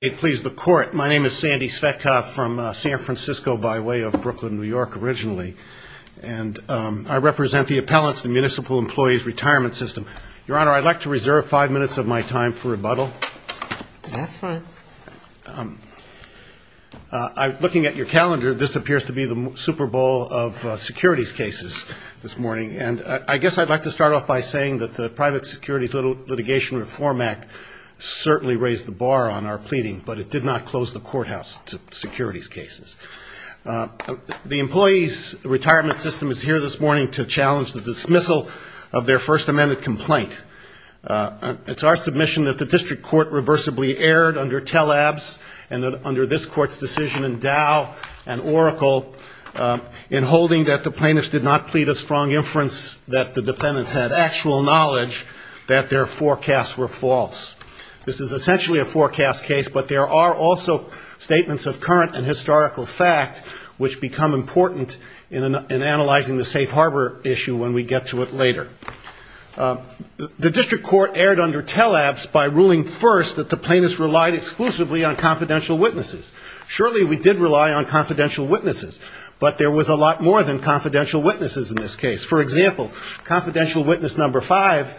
My name is Sandy Svetkov from San Francisco by way of Brooklyn, New York, originally. And I represent the Appellants and Municipal Employees Retirement System. Your Honor, I'd like to reserve five minutes of my time for rebuttal. That's fine. Looking at your calendar, this appears to be the Super Bowl of securities cases this morning. And I guess I'd like to start off by saying that the Private Securities Litigation Reform Act certainly raised the bar on our pleading, but it did not close the courthouse to securities cases. The Employees' Retirement System is here this morning to challenge the dismissal of their First Amendment complaint. It's our submission that the District Court reversibly erred under TELABS and under this Court's decision in Dow and Oracle in holding that the plaintiffs did not plead a strong inference, that the defendants had actual knowledge that their forecasts were false. This is essentially a forecast case, but there are also statements of current and historical fact which become important in analyzing the safe harbor issue when we get to it later. The District Court erred under TELABS by ruling first that the plaintiffs relied exclusively on confidential witnesses. Surely we did rely on confidential witnesses, but there was a lot more than confidential witnesses in this case. For example, confidential witness number five,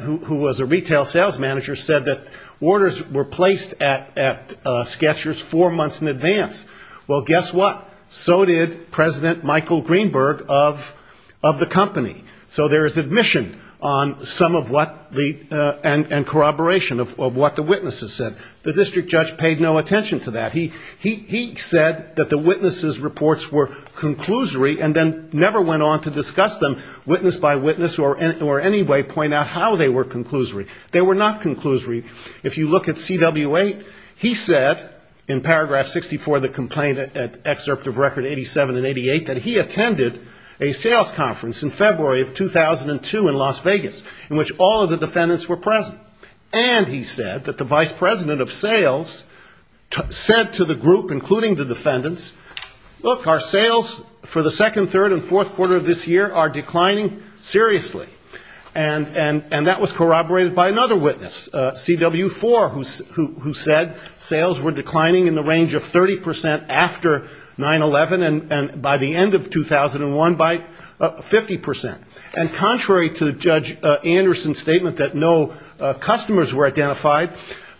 who was a retail sales manager, said that orders were placed at Sketchers four months in advance. Well, guess what? So did President Michael Greenberg of the company. So there is admission on some of what the and corroboration of what the witnesses said. The district judge paid no attention to that. He said that the witnesses' reports were conclusory and then never went on to discuss them witness by witness or any way point out how they were conclusory. They were not conclusory. If you look at CW8, he said in paragraph 64 of the complaint at excerpt of record 87 and 88 that he attended a sales conference in February of 2002 in Las Vegas, in which all of the defendants were present. And he said that the vice president of sales said to the group, including the defendants, look, our sales for the second, third and fourth quarter of this year are declining seriously. And that was corroborated by another witness, CW4, who said sales were declining in the range of 30 percent after 9-11 and by the end of 2001 by 50 percent. And contrary to Judge Anderson's statement that no customers were identified,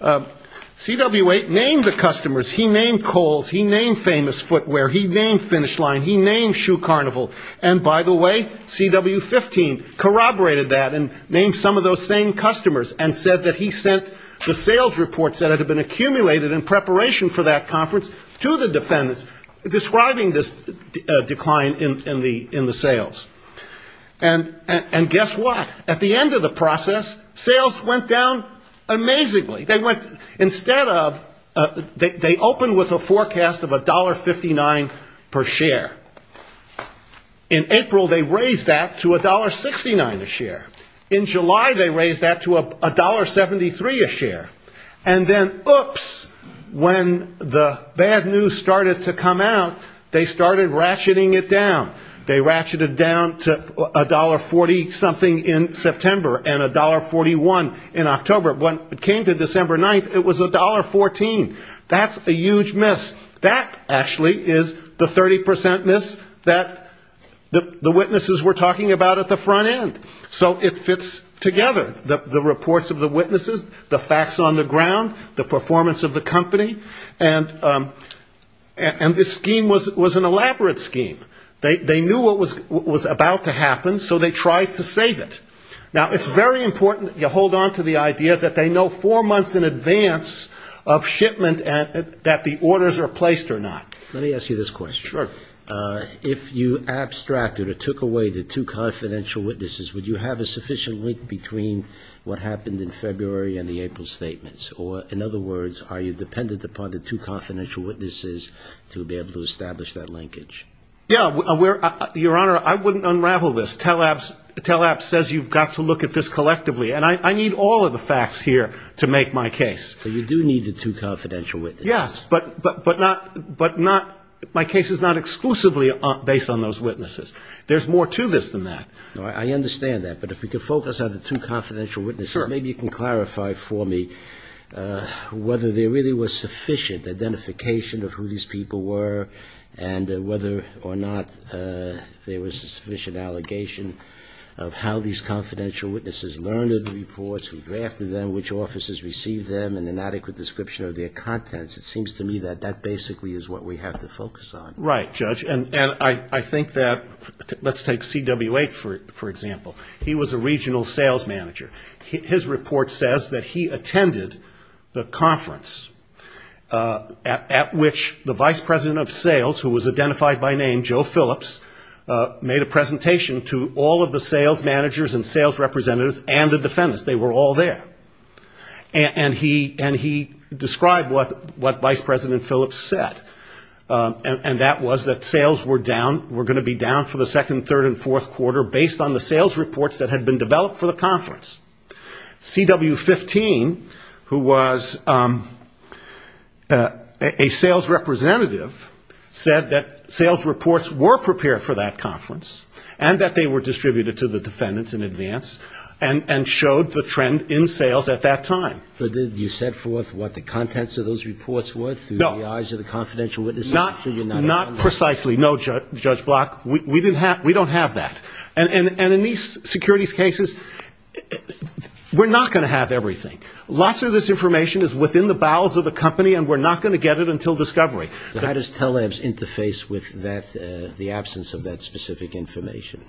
CW8 named the customers. He named Kohl's. He named Famous Footwear. He named Finish Line. He named Shoe Carnival. And by the way, CW15 corroborated that and named some of those same customers and said that he sent the sales reports that had been accumulated in preparation for that conference to the defendants, describing this decline in the sales. And guess what? At the end of the process, sales went down amazingly. Instead of they opened with a forecast of $1.59 per share. In April they raised that to $1.69 a share. In July they raised that to $1.73 a share. And then, oops, when the bad news started to come out, they started ratcheting it down. They ratcheted down to $1.40 something in September and $1.41 in October. When it came to December 9th, it was $1.14. That's a huge miss. That actually is the 30 percent miss that the witnesses were talking about at the front end. So it fits together. The reports of the witnesses, the facts on the ground, the performance of the company, and this scheme was an elaborate scheme. They knew what was about to happen, so they tried to save it. Now, it's very important you hold on to the idea that they know four months in advance of shipment and that the orders are placed or not. Let me ask you this question. Sure. If you abstracted or took away the two confidential witnesses, would you have a sufficient link between what happened in February and the April statements? Or, in other words, are you dependent upon the two confidential witnesses to be able to establish that linkage? Yeah. Your Honor, I wouldn't unravel this. TELAPP says you've got to look at this collectively, and I need all of the facts here to make my case. So you do need the two confidential witnesses. Yes. But not my case is not exclusively based on those witnesses. There's more to this than that. I understand that. But if we could focus on the two confidential witnesses. Sure. Maybe you can clarify for me whether there really was sufficient identification of who these people were and whether or not there was a sufficient allegation of how these confidential witnesses learned of the reports, who drafted them, which offices received them, and an adequate description of their contents. It seems to me that that basically is what we have to focus on. Right, Judge. And I think that let's take CW8, for example. He was a regional sales manager. His report says that he attended the conference at which the vice president of sales, who was identified by name, Joe Phillips, made a presentation to all of the sales managers and sales representatives and the defendants. They were all there. And he described what Vice President Phillips said, and that was that sales were down, were going to be down for the second, third, and fourth quarter based on the sales reports that had been developed for the conference. CW15, who was a sales representative, said that sales reports were prepared for that conference and that they were distributed to the defendants in advance and showed the trend in sales at that time. But did you set forth what the contents of those reports were through the eyes of the confidential witnesses? Not precisely, no, Judge Block. We don't have that. And in these securities cases, we're not going to have everything. Lots of this information is within the bowels of the company, and we're not going to get it until discovery. How does TELEBS interface with the absence of that specific information?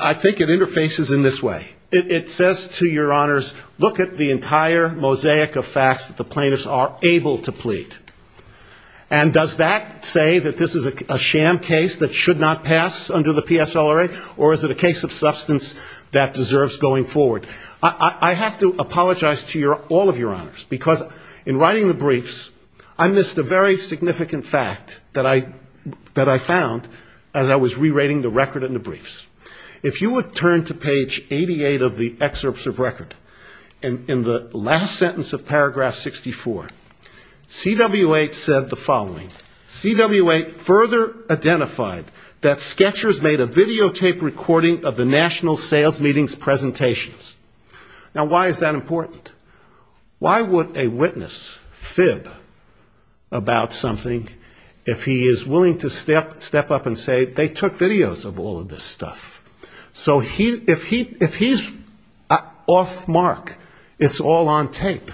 I think it interfaces in this way. It says to your honors, look at the entire mosaic of facts that the plaintiffs are able to plead. And does that say that this is a sham case that should not pass under the PSLRA, or is it a case of substance that deserves going forward? I have to apologize to all of your honors, because in writing the briefs, I missed a very significant fact that I found as I was rewriting the record in the briefs. If you would turn to page 88 of the excerpts of record, in the last sentence of paragraph 64, CW8 said the following. CW8 further identified that Sketchers made a videotape recording of the National Sales Meeting's presentations. Now, why is that important? Why would a witness fib about something if he is willing to step up and say they took videos of all of this stuff? So if he's off mark, it's all on tape.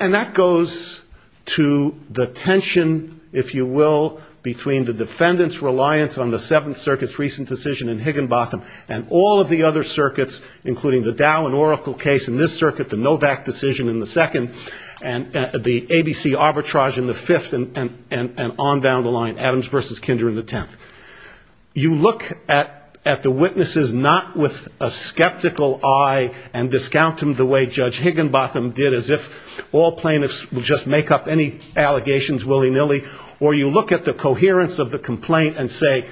And that goes to the tension, if you will, between the defendant's reliance on the Seventh Circuit's recent decision in Higginbotham and all of the other circuits, including the Dow and Oracle case in this circuit, the Novak decision in the second, and the ABC arbitrage in the fifth, and on down the line, Adams v. Kinder in the tenth. You look at the witnesses not with a skeptical eye and discount them the way Judge Higginbotham did, as if all plaintiffs would just make up any allegations willy-nilly, or you look at the coherence of the complaint and say,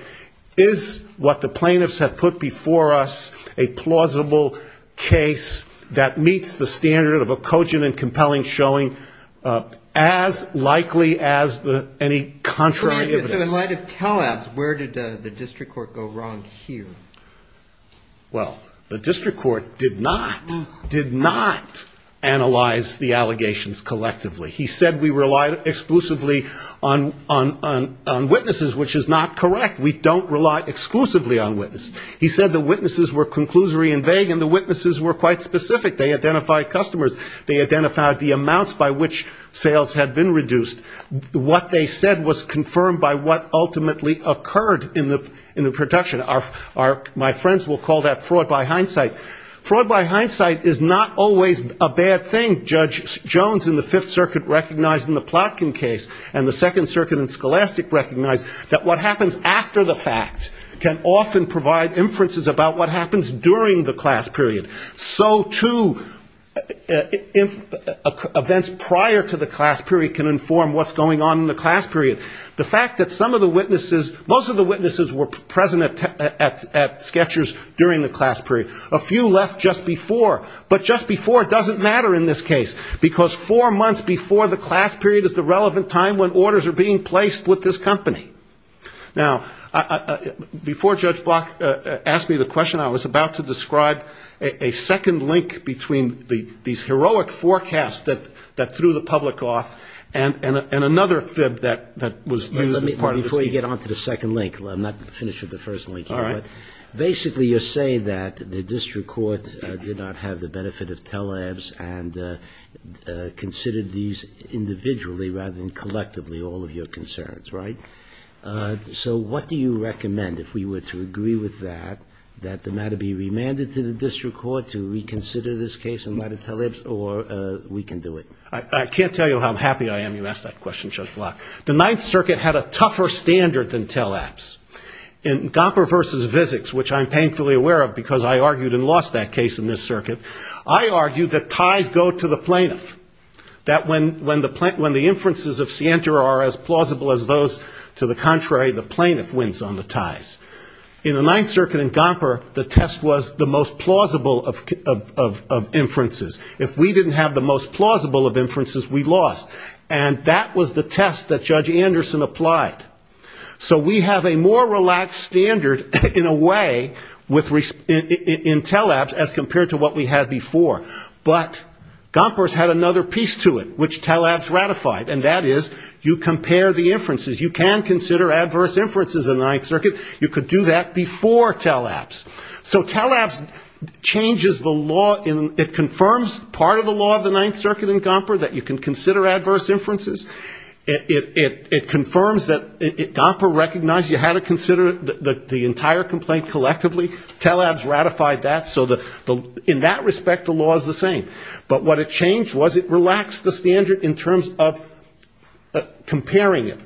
is what the plaintiffs have put before us a plausible case that meets the standard of a cogent and compelling showing as likely as any contrary evidence? So in light of tele-abs, where did the district court go wrong here? Well, the district court did not, did not analyze the allegations collectively. He said we relied exclusively on witnesses, which is not correct. We don't rely exclusively on witnesses. He said the witnesses were conclusory and vague, and the witnesses were quite specific. They identified customers, they identified the amounts by which sales had been reduced. What they said was confirmed by what ultimately occurred in the production. My friends will call that fraud by hindsight. Fraud by hindsight is not always a bad thing. Judge Jones in the Fifth Circuit recognized in the Plotkin case and the Second Circuit in Scholastic recognized that what happens after the fact can often provide inferences about what happens during the class period. So, too, events prior to the class period can inform what's going on in the class period. The fact that some of the witnesses, most of the witnesses were present at Sketchers during the class period. A few left just before. But just before doesn't matter in this case, because four months before the class period is the relevant time when orders are being placed with this company. Now, before Judge Block asked me the question, I was about to describe a second link between these heroic forecasts that threw the public off and another fib that was used as part of the scheme. Let me, before you get on to the second link, I'm not finished with the first link here. All right. Basically, you're saying that the district court did not have the benefit of tele-abs and considered these individually rather than collectively, all of your concerns, right? So what do you recommend, if we were to agree with that, that the matter be remanded to the district court to reconsider this case in light of tele-abs, or we can do it? I can't tell you how happy I am you asked that question, Judge Block. The Ninth Circuit had a tougher standard than tele-abs. In Gomper v. Vizics, which I'm painfully aware of because I argued and lost that case in this circuit, I argued that ties go to the plaintiff. That when the inferences of scienter are as plausible as those to the contrary, the plaintiff wins on the ties. In the Ninth Circuit in Gomper, the test was the most plausible of inferences. If we didn't have the most plausible of inferences, we lost, and that was the test that Judge Anderson applied. So we have a more relaxed standard, in a way, in tele-abs as compared to what we had before. But Gomper's had another piece to it, which tele-abs ratified, and that is you compare the inferences. You can consider adverse inferences in the Ninth Circuit. You could do that before tele-abs. So tele-abs changes the law, it confirms part of the law of the Ninth Circuit in Gomper that you can consider adverse inferences. It confirms that Gomper recognized you had to consider the entire complaint collectively. Tele-abs ratified that, so in that respect the law is the same. But what it changed was it relaxed the standard in terms of comparing it.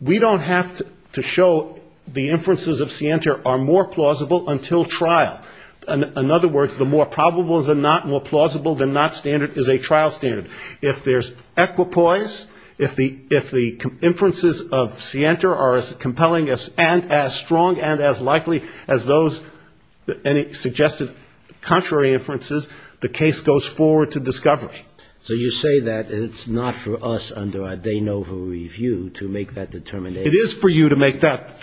We don't have to show the inferences of scienter are more plausible until trial. In other words, the more probable than not, more plausible than not standard is a trial standard. If there's equipoise, if the inferences of scienter are as compelling and as strong and as likely as those any suggested contrary inferences, the case goes forward to discovery. So you say that it's not for us under a de novo review to make that determination? It is for you to make that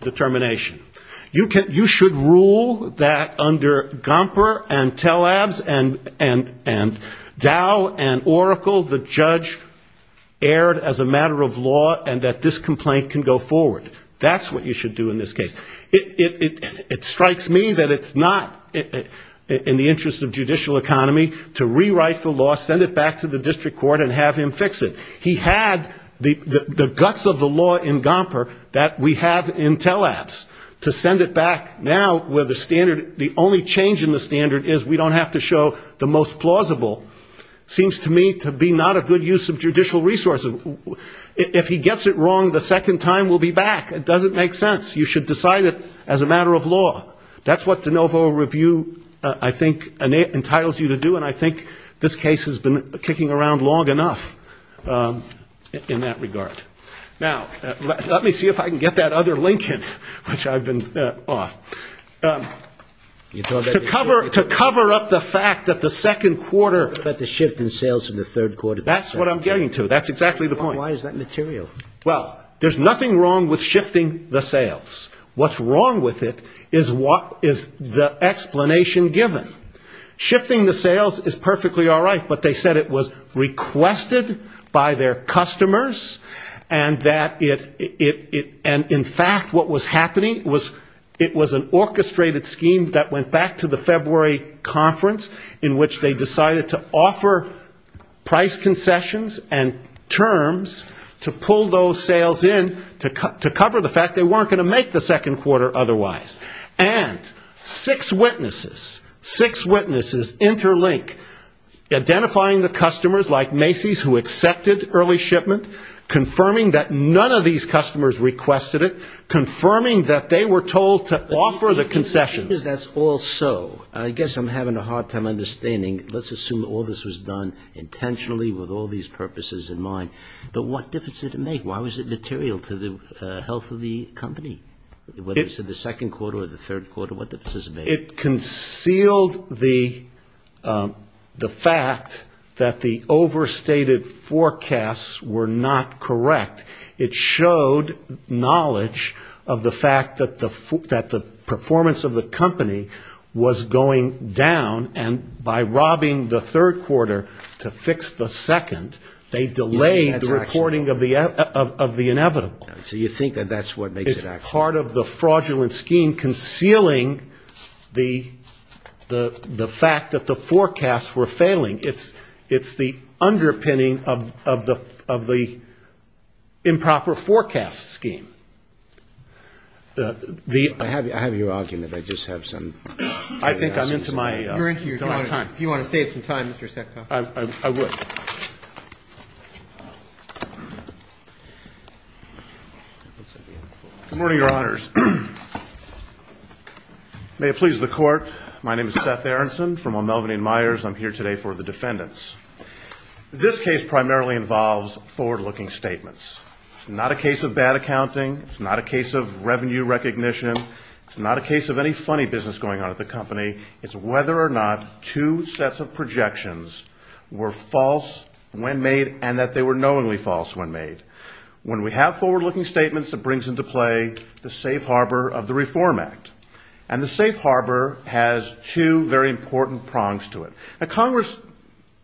determination. You should rule that under Gomper and tele-abs and Dow and Oracle the judge erred as a matter of law, and that this complaint can go forward. That's what you should do in this case. It strikes me that it's not in the interest of judicial economy to rewrite the law, send it back to the district court and have him fix it. He had the guts of the law in Gomper that we have in tele-abs to send it back now where the standard, the only change in the standard is we don't have to show the most plausible. Seems to me to be not a good use of judicial resources. If he gets it wrong the second time, we'll be back. It doesn't make sense. You should decide it as a matter of law. That's what de novo review, I think, entitles you to do, and I think this case has been kicking around long enough in that regard. Now, let me see if I can get that other link in, which I've been off. To cover up the fact that the second quarter... Why is that material? Well, there's nothing wrong with shifting the sales. What's wrong with it is the explanation given. Shifting the sales is perfectly all right, but they said it was requested by their customers, and that it, in fact, what was happening, it was an orchestrated scheme that went back to the February conference in which they decided to offer price concessions and turn the sales over to the district court. And six witnesses, six witnesses interlink, identifying the customers like Macy's who accepted early shipment, confirming that none of these customers requested it, confirming that they were told to offer the concessions. I guess I'm having a hard time understanding. Let's assume all this was done intentionally with all these purposes in mind. But what difference did it make? Why was it material to the health of the company? Whether it was the second quarter or the third quarter, what difference does it make? It concealed the fact that the overstated forecasts were not correct. It showed knowledge of the fact that the performance of the company was going down, and by robbing the third quarter to fix the second, they delayed the recovery. It's part of the fraudulent scheme concealing the fact that the forecasts were failing. It's the underpinning of the improper forecast scheme. I think I'm into my time. If you want to save some time, Mr. Secco. Good morning, Your Honors. May it please the Court, my name is Seth Aronson from O'Melveny & Myers. I'm here today for the defendants. This case primarily involves forward-looking statements. It's not a case of bad accounting. It's not a case of revenue recognition. It's not a case of any funny business going on at the company. It's whether or not two sets of projections were false when made and that they were knowingly false when made. When we have forward-looking statements, it brings into play the safe harbor of the Reform Act. And the safe harbor has two very important prongs to it. Now, Congress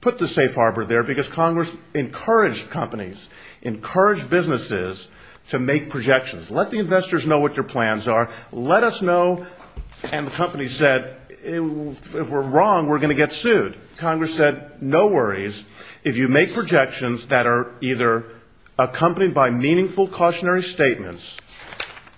put the safe harbor there because Congress encouraged companies, encouraged businesses to make projections. Let the investors know what your plans are. Let us know. And the company said, if we're wrong, we're going to get sued. Congress said, no worries. If you make projections that are either accompanied by meaningful cautionary statements,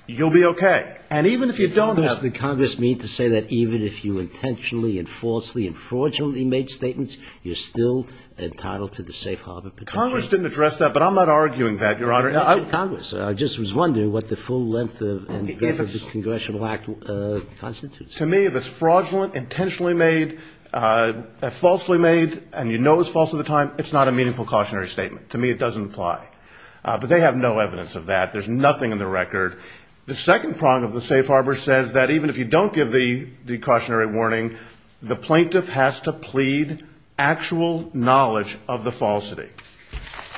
you'll be okay. And even if you don't have... What does the Congress mean to say that even if you intentionally and falsely and fraudulently made statements, you're still entitled to the safe harbor protection? Congress didn't address that, but I'm not arguing that, Your Honor. Congress. I just was wondering what the full length of the Congressional Act constitutes. To me, if it's fraudulent, intentionally made, falsely made, and you know it's false at the time, it's not a meaningful cautionary statement. To me, it doesn't apply. But they have no evidence of that. There's nothing in the record. The second prong of the safe harbor says that even if you don't give the cautionary warning, the plaintiff has to plead actual knowledge of the falsity.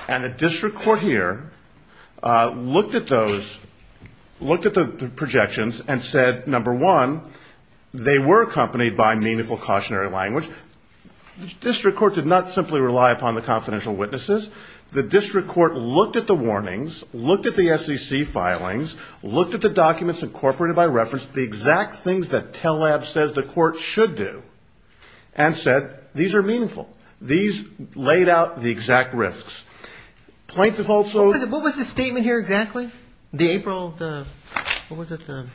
And the district court here looked at those, looked at the projections and said, number one, they were accompanied by meaningful cautionary language. District court did not simply rely upon the confidential witnesses. The district court looked at the warnings, looked at the SEC filings, looked at the documents incorporated by reference, the exact things that TELLAB says the court should do, and said, these are meaningful. These laid out the exact risks. What was the statement here exactly? The April, what was it, the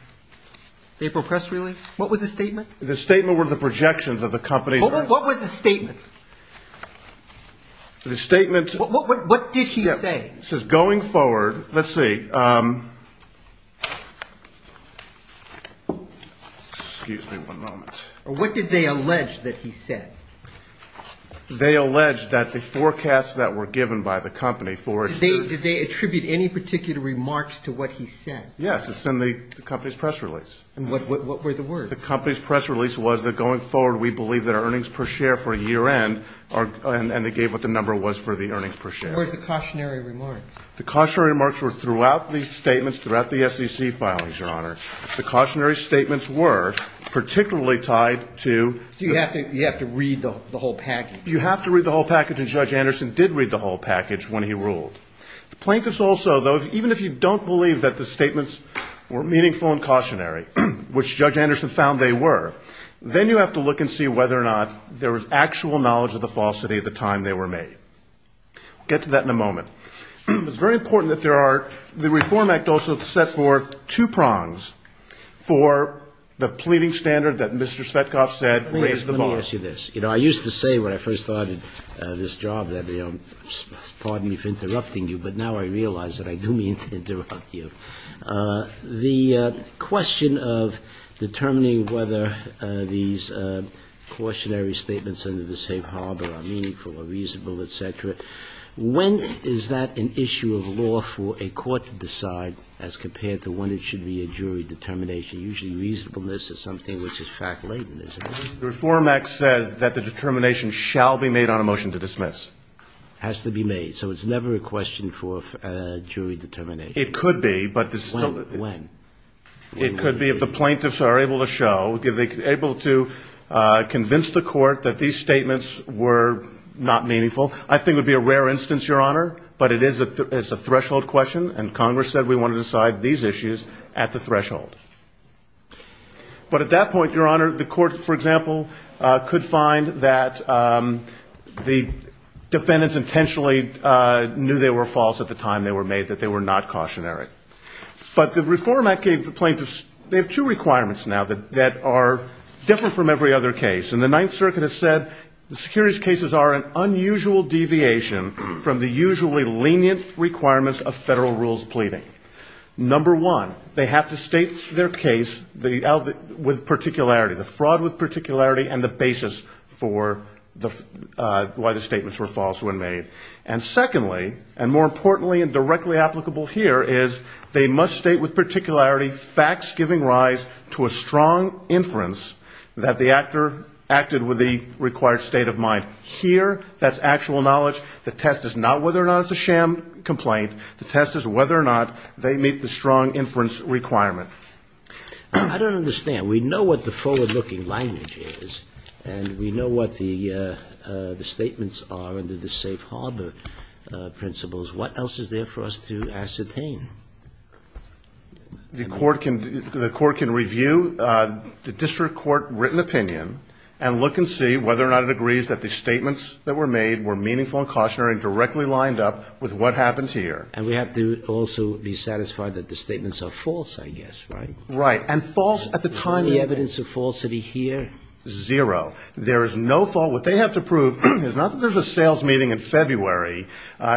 April press release? What was the statement? The statement were the projections of the company. What was the statement? The statement. What did he say? It says, going forward, let's see. Excuse me one moment. What did they allege that he said? They allege that the forecasts that were given by the company for. Did they attribute any particular remarks to what he said? Yes, it's in the company's press release. And what were the words? The company's press release was that going forward, we believe that our earnings per share for a year end, and they gave what the number was for the earnings per share. And what were the cautionary remarks? The cautionary remarks were throughout these statements, throughout the SEC filings, Your Honor. The cautionary statements were particularly tied to. So you have to read the whole package. You have to read the whole package, and Judge Anderson did read the whole package when he ruled. The plaintiffs also, though, even if you don't believe that the statements were meaningful and cautionary, which Judge Anderson found they were, then you have to look and see whether or not there was actual knowledge of the falsity at the time they were made. We'll get to that in a moment. It's very important that there are, the Reform Act also set forth two prongs for the pleading standard that Mr. Svetkov said raised the bar. Let me ask you this. You know, I used to say when I first started this job that, you know, pardon me for interrupting you, but now I realize that I do mean to interrupt you. The question of determining whether these cautionary statements under the safe harbor are meaningful or reasonable, et cetera, when is that an issue of law for a court to decide as compared to when it should be a jury determination? Usually reasonableness is something which is fact-laden, isn't it? The Reform Act says that the determination shall be made on a motion to dismiss. Has to be made. So it's never a question for jury determination. It could be, but it's still not. When? It could be if the plaintiffs are able to show, if they're able to convince the Court that these statements were not meaningful. I think it would be a rare instance, Your Honor, but it is a threshold question, and Congress said we want to decide these issues at the threshold. But at that point, Your Honor, the Court, for example, could find that the defendants intentionally knew they were false at the time they were made, that they were not cautionary. But the Reform Act gave the plaintiffs, they have two requirements now that are different from every other case. And the Ninth Circuit has said the securities cases are an unusual deviation from the usually lenient requirements of federal rules of pleading. Number one, they have to state their case with particularity, the fraud with particularity, and the basis for why the statements were false when made. And secondly, and more importantly and directly applicable here, is they must state with particularity facts giving rise to a strong inference that the actor, acted with the required state of mind. Here, that's actual knowledge. The test is not whether or not it's a sham complaint. The test is whether or not they meet the strong inference requirement. I don't understand. And we know what the forward-looking language is, and we know what the statements are under the safe harbor principles. What else is there for us to ascertain? The Court can review the district court written opinion and look and see whether or not it agrees that the statements that were made were meaningful and cautionary and directly lined up with what happens here. And we have to also be satisfied that the statements are false, I guess, right? Right. And false at the time of the evidence of falsity here? Zero. There is no fault. What they have to prove is not that there's a sales meeting in February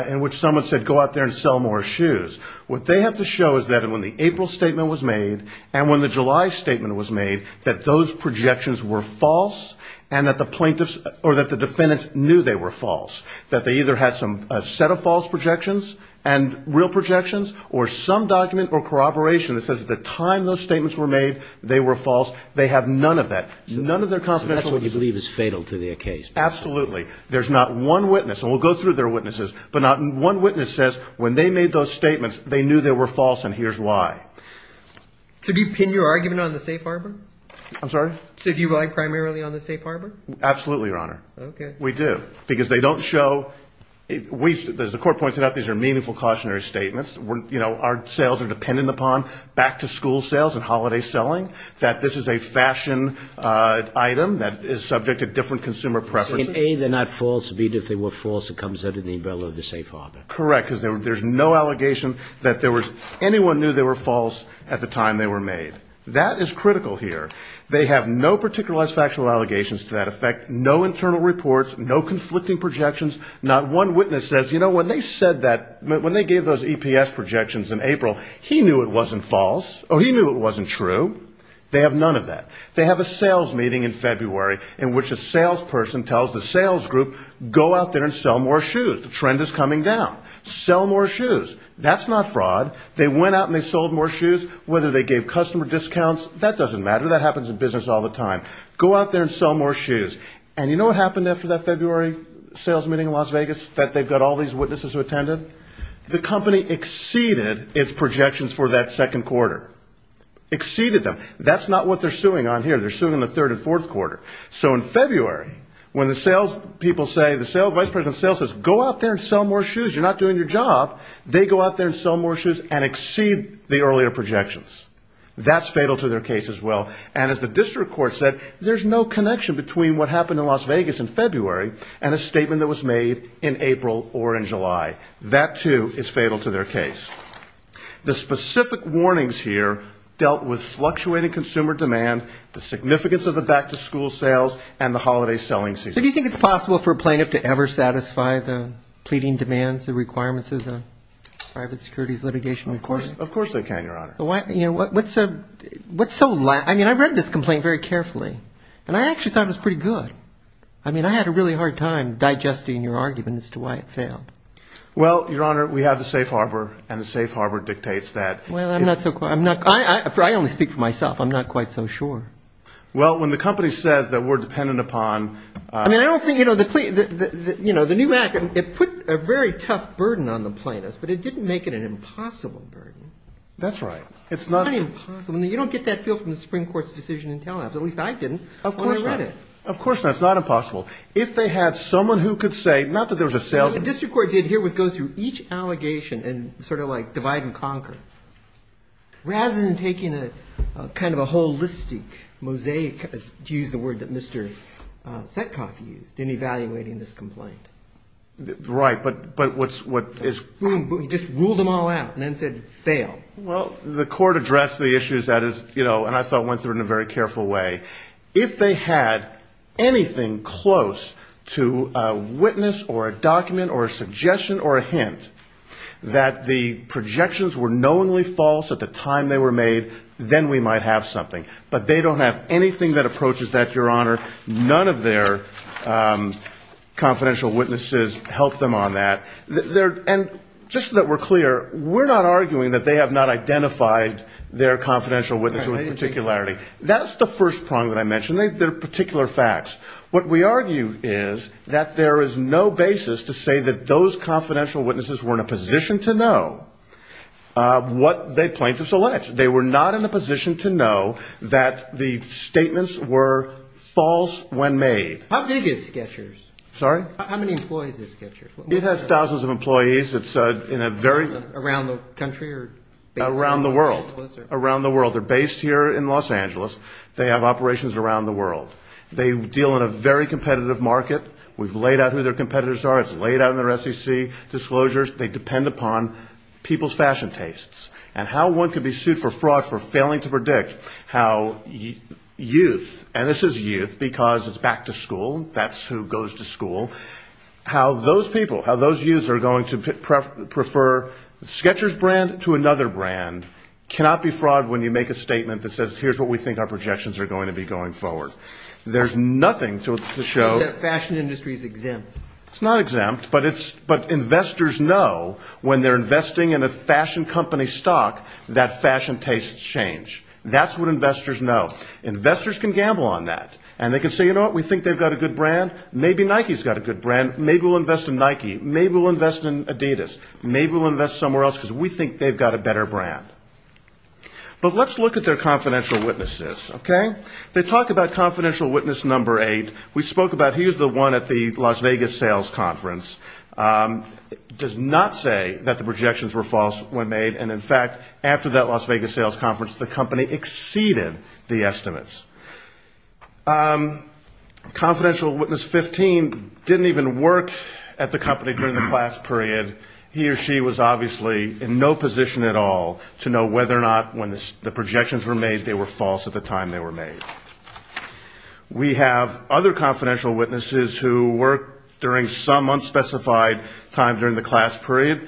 in which someone said go out there and sell more shoes. What they have to show is that when the April statement was made and when the July statement was made, that those projections were false, and that the plaintiffs or that the defendants knew they were false, that they either had a set of false projections and real projections or some document or corroboration that says at the time those statements were made, they were false. They have none of that. None of their confidentiality. So that's what you believe is fatal to their case? Absolutely. There's not one witness, and we'll go through their witnesses, but not one witness says when they made those statements, they knew they were false, and here's why. So do you pin your argument on the safe harbor? I'm sorry? So do you rely primarily on the safe harbor? Absolutely, Your Honor. We do, because they don't show, as the court pointed out, these are meaningful cautionary statements. Our sales are dependent upon back-to-school sales and holiday selling, that this is a fashion item that is subject to different consumer preferences. In A, they're not false, and B, if they were false, it comes under the umbrella of the safe harbor. Correct, because there's no allegation that anyone knew they were false at the time they were made. That is critical here. They have no particularized factual allegations to that effect, no internal reports, no conflicting projections. Not one witness says, you know, when they said that, when they gave those EPS projections in April, he knew it wasn't false, or he knew it wasn't true. They have none of that. They have a sales meeting in February, in which a salesperson tells the sales group, go out there and sell more shoes. The trend is coming down. Sell more shoes. That's not fraud. They went out and they sold more shoes. Whether they gave customer discounts, that doesn't matter. That happens in business all the time. Go out there and sell more shoes. And you know what happened after that February sales meeting in Las Vegas, that they've got all these witnesses who attended? The company exceeded its projections for that second quarter. Exceeded them. That's not what they're suing on here. They're suing in the third and fourth quarter. So in February, when the sales people say, the vice president of sales says, go out there and sell more shoes, you're not doing your job, they go out there and sell more shoes and exceed the earlier projections. That's fatal to their case as well. And as the district court said, there's no connection between what happened in Las Vegas in February and a statement that was made in April or in July. That, too, is fatal to their case. The specific warnings here dealt with fluctuating consumer demand, the significance of the back-to-school sales, and the holiday selling season. Do you think it's possible for a plaintiff to ever satisfy the pleading demands, the requirements of the private securities litigation? Of course they can, Your Honor. I mean, I read this complaint very carefully, and I actually thought it was pretty good. I mean, I had a really hard time digesting your argument as to why it failed. Well, Your Honor, we have the safe harbor, and the safe harbor dictates that. I only speak for myself. I'm not quite so sure. Well, when the company says that we're dependent upon the new act, it put a very tough burden on the plaintiffs, but it didn't make it an impossible burden. It's not impossible. You don't get that feel from the Supreme Court's decision in Telenet, but at least I didn't when I read it. Of course not. It's not impossible. If they had someone who could say, not that there was a salesman. The district court did here was go through each allegation and sort of like divide and conquer. Rather than taking a kind of a holistic mosaic, to use the word that Mr. Setkoff used, in evaluating this complaint. Right, but what is. Well, the court addressed the issues that is, you know, and I thought went through in a very careful way. If they had anything close to a witness or a document or a suggestion or a hint, that the projections were knowingly false at the time they were made, then we might have something. But they don't have anything that approaches that, Your Honor. I don't think the confidential witnesses help them on that. And just so that we're clear, we're not arguing that they have not identified their confidential witness with particularity. That's the first prong that I mentioned. They're particular facts. What we argue is that there is no basis to say that those confidential witnesses were in a position to know what the plaintiffs alleged. They were not in a position to know that the statements were false when made. How big is Sketchers? How many employees is Sketchers? It has thousands of employees. It's in a very... Around the country? Around the world. They're based here in Los Angeles. They have operations around the world. They deal in a very competitive market. We've laid out who their competitors are. It's laid out in their SEC disclosures. They depend upon people's fashion tastes and how one can be sued for fraud for failing to predict how youth, and this is youth because it's back to school, that's who goes to school, how those people, how those youths are going to prefer Sketchers brand to another brand cannot be fraud when you make a statement that says here's what we think our projections are going to be going forward. There's nothing to show... That fashion industry is exempt. It's not exempt, but investors know when they're investing in a fashion company stock that fashion tastes change. That's what investors know. Investors can gamble on that. And they can say, you know what, we think they've got a good brand. Maybe Nike's got a good brand. Maybe we'll invest in Nike. Maybe we'll invest in Adidas. Maybe we'll invest somewhere else because we think they've got a better brand. But let's look at their confidential witnesses. They talk about confidential witness number eight. We spoke about he was the one at the Las Vegas sales conference. Does not say that the projections were false when made, and in fact, after that Las Vegas sales conference, the company exceeded the estimates. Confidential witness 15 didn't even work at the company during the class period. He or she was obviously in no position at all to know whether or not when the projections were made they were false at the time. They were made. We have other confidential witnesses who work during some unspecified time during the class period.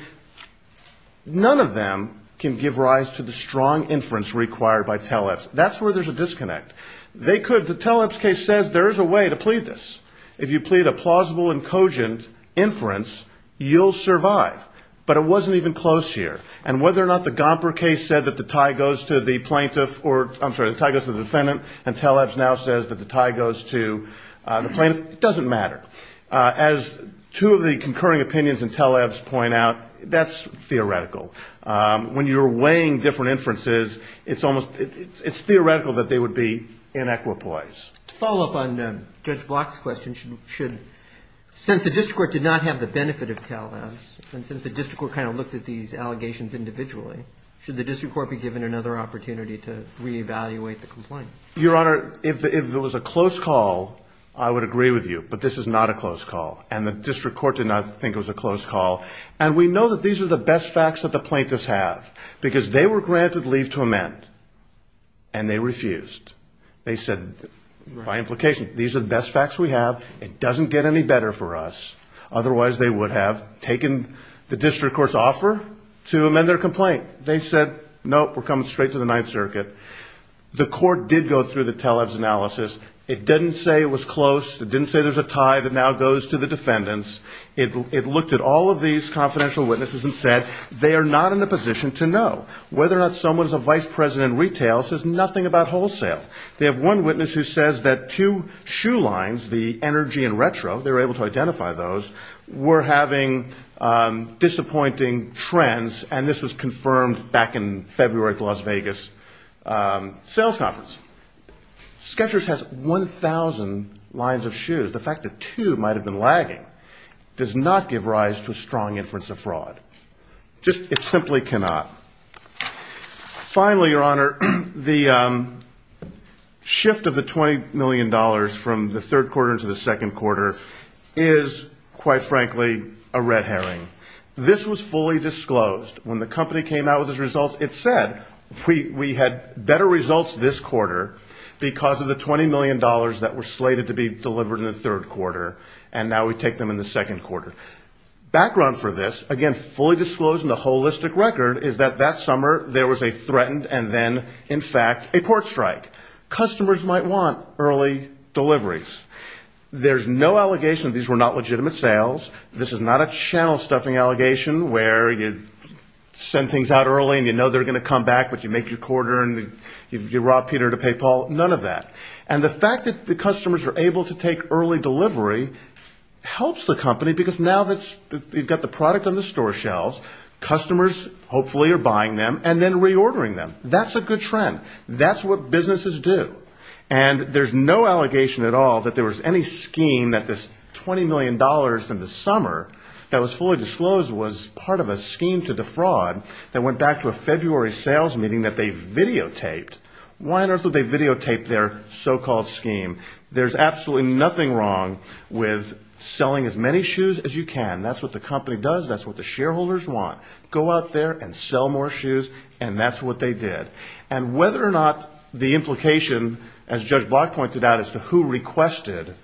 None of them can give rise to the strong inference required by teleps. That's where there's a disconnect. They could. The teleps case says there is a way to plead this. If you plead a plausible and cogent inference, you'll survive. But it wasn't even close here. And whether or not the Gomper case said that the tie goes to the plaintiff or, I'm sorry, the tie goes to the defendant and teleps now says that the tie goes to the plaintiff, it doesn't matter. As two of the concurring opinions in teleps point out, that's theoretical. When you're weighing different inferences, it's almost, it's theoretical that they would be inequipoise. To follow up on Judge Block's question, should, since the district court did not have the benefit of teleps, since the district court kind of looked at these allegations individually, should the district court be given another opportunity to reevaluate the complaint? Your Honor, if there was a close call, I would agree with you. But this is not a close call. And the district court did not think it was a close call. And we know that these are the best facts that the plaintiffs have. Because they were granted leave to amend, and they refused. They said, by implication, these are the best facts we have. It doesn't get any better for us. Otherwise, they would have taken the district court's offer to amend their complaint. They said, nope, we're coming straight to the Ninth Circuit. The court did go through the teleps analysis. It didn't say it was close. It didn't say there's a tie that now goes to the defendants. It looked at all of these confidential witnesses and said, they are not in a position to know. Whether or not someone is a vice president in retail says nothing about wholesale. They have one witness who says that two shoe lines, the Energy and Retro, they were able to identify those, were having disappointing trends, and this was confirmed back in February at the Las Vegas sales conference. Sketchers has 1,000 lines of shoes. The fact that two might have been lagging does not give rise to a strong inference of fraud. It simply cannot. Finally, Your Honor, the shift of the $20 million from the third quarter into the second quarter is, quite frankly, a red herring. This was fully disclosed. When the company came out with its results, it said, we had better results this quarter because of the $20 million that were slated to be delivered in the third quarter, and now we take them in the second quarter. Background for this, again, fully disclosed in the holistic record is that that summer there was a threatened and then, in fact, a court strike. Customers might want early deliveries. There's no allegation these were not legitimate sales. This is not a channel-stuffing allegation where you send things out early and you know they're going to come back, but you make your quarter and you rob Peter to pay Paul. None of that. And the fact that the customers are able to take early delivery helps the company, because now that you've got the product on the store shelves, customers hopefully are buying them and then reordering them. That's a good trend. That's what businesses do. And there's no allegation at all that there was any scheme that this $20 million in the summer that was fully disclosed was part of a scheme to defraud that went back to a February sales meeting that they videotaped. Why on earth would they videotape their so-called scheme? There's absolutely nothing wrong with selling as many shoes as you can. That's what the company does. That's what the shareholders want. Go out there and sell more shoes, and that's what they did. And whether or not the implication, as Judge Block pointed out, as to who requested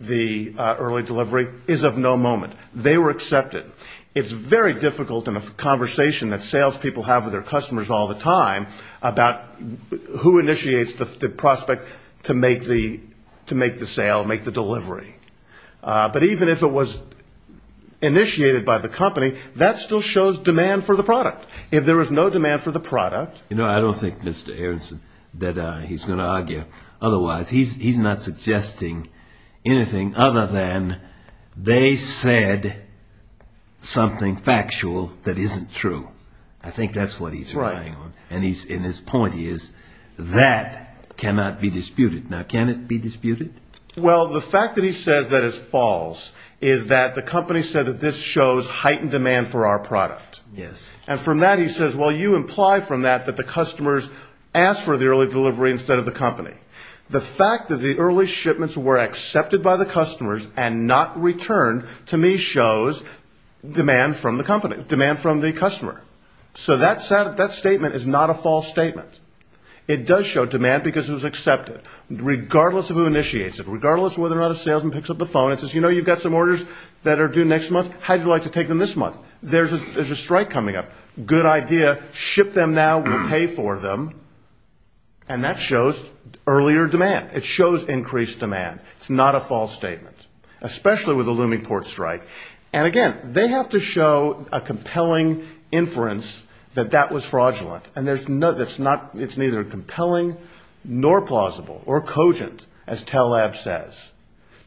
the early delivery is of no moment. They were accepted. It's very difficult in a conversation that salespeople have with their customers all the time about who initiates the prospect to make the sale, make the delivery. But even if it was initiated by the company, that still shows demand for the product. If there was no demand for the product... You know, I don't think, Mr. Aronson, that he's going to argue otherwise. He's not suggesting anything other than they said something factual that isn't true. I think that's what he's relying on. And his point is, that cannot be disputed. Now, can it be disputed? Well, the fact that he says that it's false is that the company said that this shows heightened demand for our product. And from that he says, well, you imply from that that the customers asked for the early delivery instead of the company. The fact that the early shipments were accepted by the customers and not returned, to me, shows demand from the customer. So that statement is not a false statement. It does show demand because it was accepted, regardless of who initiates it, regardless of whether or not a salesman picks up the phone and says, you know, you've got some orders that are due next month, how would you like to take them this month? There's a strike coming up. Good idea. Ship them now. We'll pay for them. And that shows earlier demand. It shows increased demand. It's not a false statement, especially with a looming port strike. And again, they have to show a compelling inference that that was fraudulent. And it's neither compelling nor plausible or cogent, as Taleb says.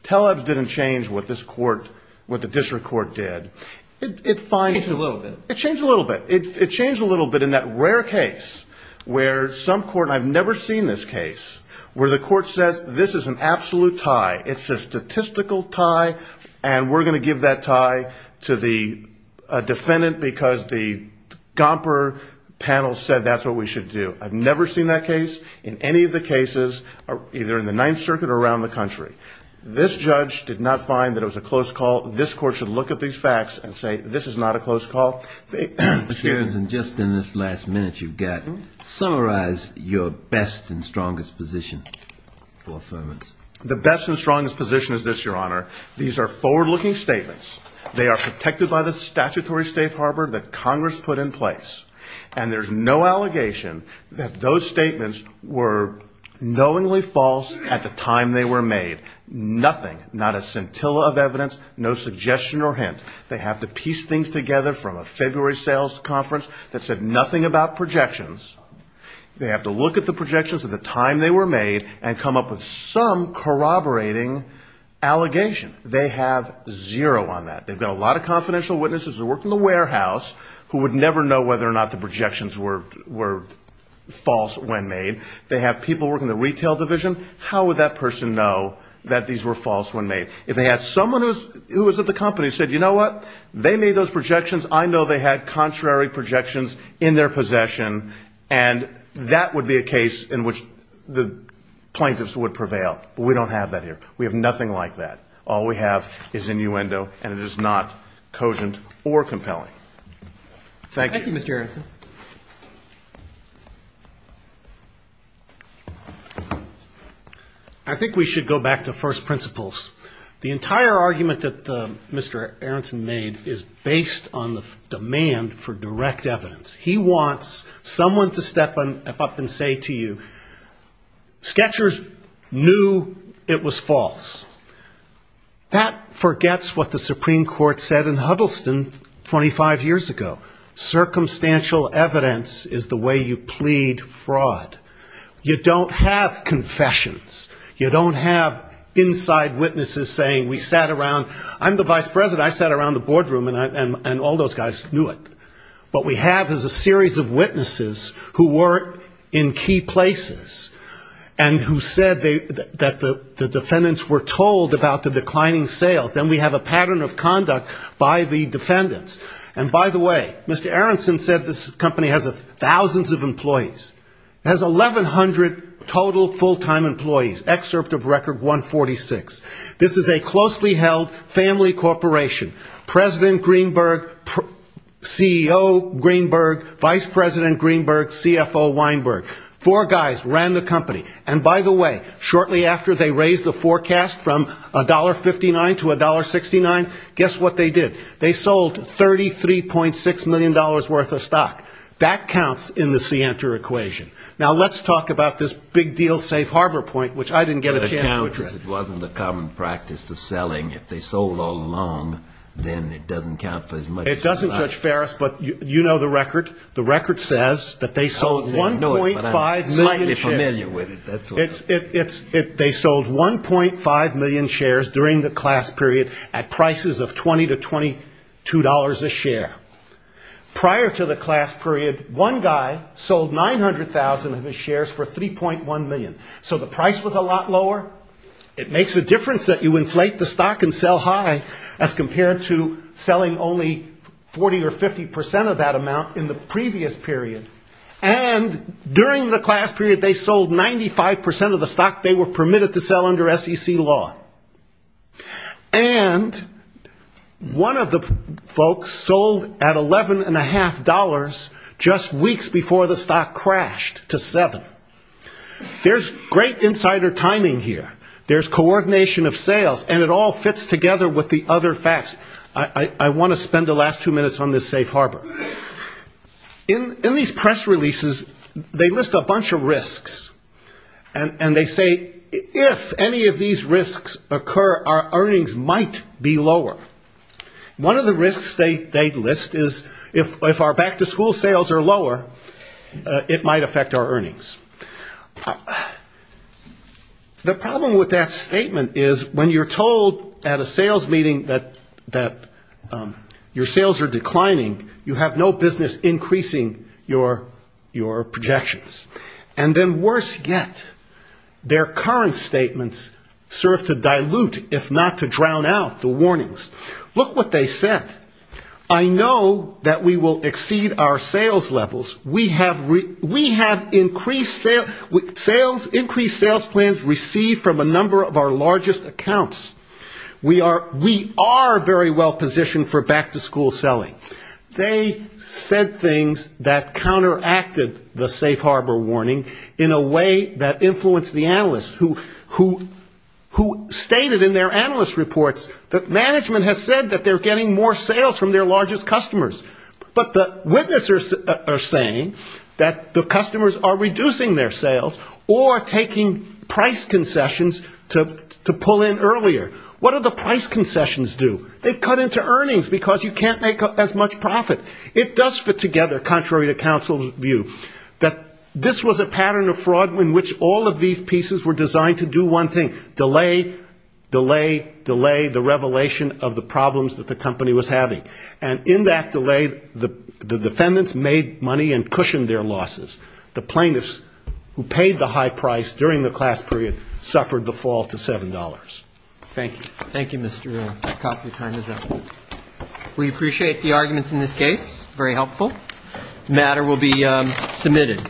Taleb didn't change what this court, what the district court did. It changed a little bit. It changed a little bit in that rare case where some court, and I've never seen this case, where the court says, this is an absolute tie. It's a statistical tie. And we're going to give that tie to the defendant because the Gomper panel said that's what we should do. I've never seen that case in any of the cases, either in the Ninth Circuit or around the country. This judge did not find that it was a close call. This court should look at these facts and say, this is not a close call. Mr. Jones, and just in this last minute you've got, summarize your best and strongest position for affirmance. The best and strongest position is this, Your Honor. These are forward-looking statements. They are protected by the statutory safe harbor that Congress put in place. And there's no allegation that those statements were knowingly false at the time they were made. Nothing, not a scintilla of evidence, no suggestion or hint. They have to piece things together from a February sales conference that said nothing about projections. They have to look at the projections at the time they were made and come up with some corroborating allegation. They have zero on that. They've got a lot of confidential witnesses who work in the warehouse who would never know whether or not the projections were false when made. They have people working in the retail division. How would that person know that these were false when made? If they had someone who was at the company who said, you know what, they made those projections, I know they had contrary projections in their possession, and that would be a case in which the plaintiffs would prevail. We don't have that here. We have nothing like that. All we have is innuendo, and it is not cogent or compelling. Thank you. Thank you, Mr. Aronson. I think we should go back to first principles. The entire argument that Mr. Aronson made is based on the demand for direct evidence. He wants someone to step up and say to you, sketchers knew it was false. That forgets what the Supreme Court said in Huddleston 25 years ago. Circumstantial evidence is the way you plead fraud. You don't have confessions. You don't have inside witnesses saying we sat around, I'm the vice president, I sat around the boardroom and all those guys knew it. What we have is a series of witnesses who were in key places, and who said that the defendants were told about the declining sales. Then we have a pattern of conduct by the defendants. And by the way, Mr. Aronson said this company has thousands of employees. It has 1,100 total full-time employees, excerpt of record 146. This is a closely held family corporation. President Greenberg, CEO Greenberg, vice president Greenberg, CFO Weinberg. Four guys ran the company. And by the way, shortly after they raised the forecast from $1.59 to $1.69, guess what they did? They sold $33.6 million worth of stock. That counts in the Sienter equation. Now let's talk about this big deal safe harbor point, which I didn't get a chance to look at. It doesn't judge Ferris, but you know the record. The record says that they sold 1.5 million shares. They sold 1.5 million shares during the class period at prices of $20 to $22 a share. Prior to the class period, one guy sold 900,000 of his shares for $3.1 million. So the price was a lot lower. It makes a difference that you inflate the stock and sell high as compared to selling only 40 or 50% of that amount in the previous period. And during the class period, they sold 95% of the stock they were permitted to sell under SEC law. And one of the folks sold at $11.5 just weeks before the stock crashed to $7. There's great insider timing here, there's coordination of sales, and it all fits together with the other facts. I want to spend the last two minutes on this safe harbor. In these press releases, they list a bunch of risks, and they say if any of these risks occur, our earnings might be lower. One of the risks they list is if our back-to-school sales are lower, it might affect our earnings. The problem with that statement is when you're told at a sales meeting that your sales are declining, you have no business increasing your projections. And then worse yet, their current statements serve to dilute, if not to drown out, the warnings. Look what they said. I know that we will exceed our sales levels. We have increased sales plans received from a number of our largest accounts. We are very well positioned for back-to-school selling. They said things that counteracted the safe harbor warning in a way that influenced the analysts, who stated in their analyst reports that management has said that they're getting more sales from their largest customers. But the witnesses are saying that the customers are reducing their sales, or taking price concessions to pull in earlier. What do the price concessions do? They cut into earnings, because you can't make as much profit. It does fit together, contrary to counsel's view, that this was a pattern of fraud in which all of these pieces were designed to do one thing, which was to delay the revelation of the problems that the company was having. And in that delay, the defendants made money and cushioned their losses. The plaintiffs, who paid the high price during the class period, suffered the fall to $7. Thank you. Thank you, Mr. Coffey. Time is up. We appreciate the arguments in this case. Very helpful. The matter will be submitted.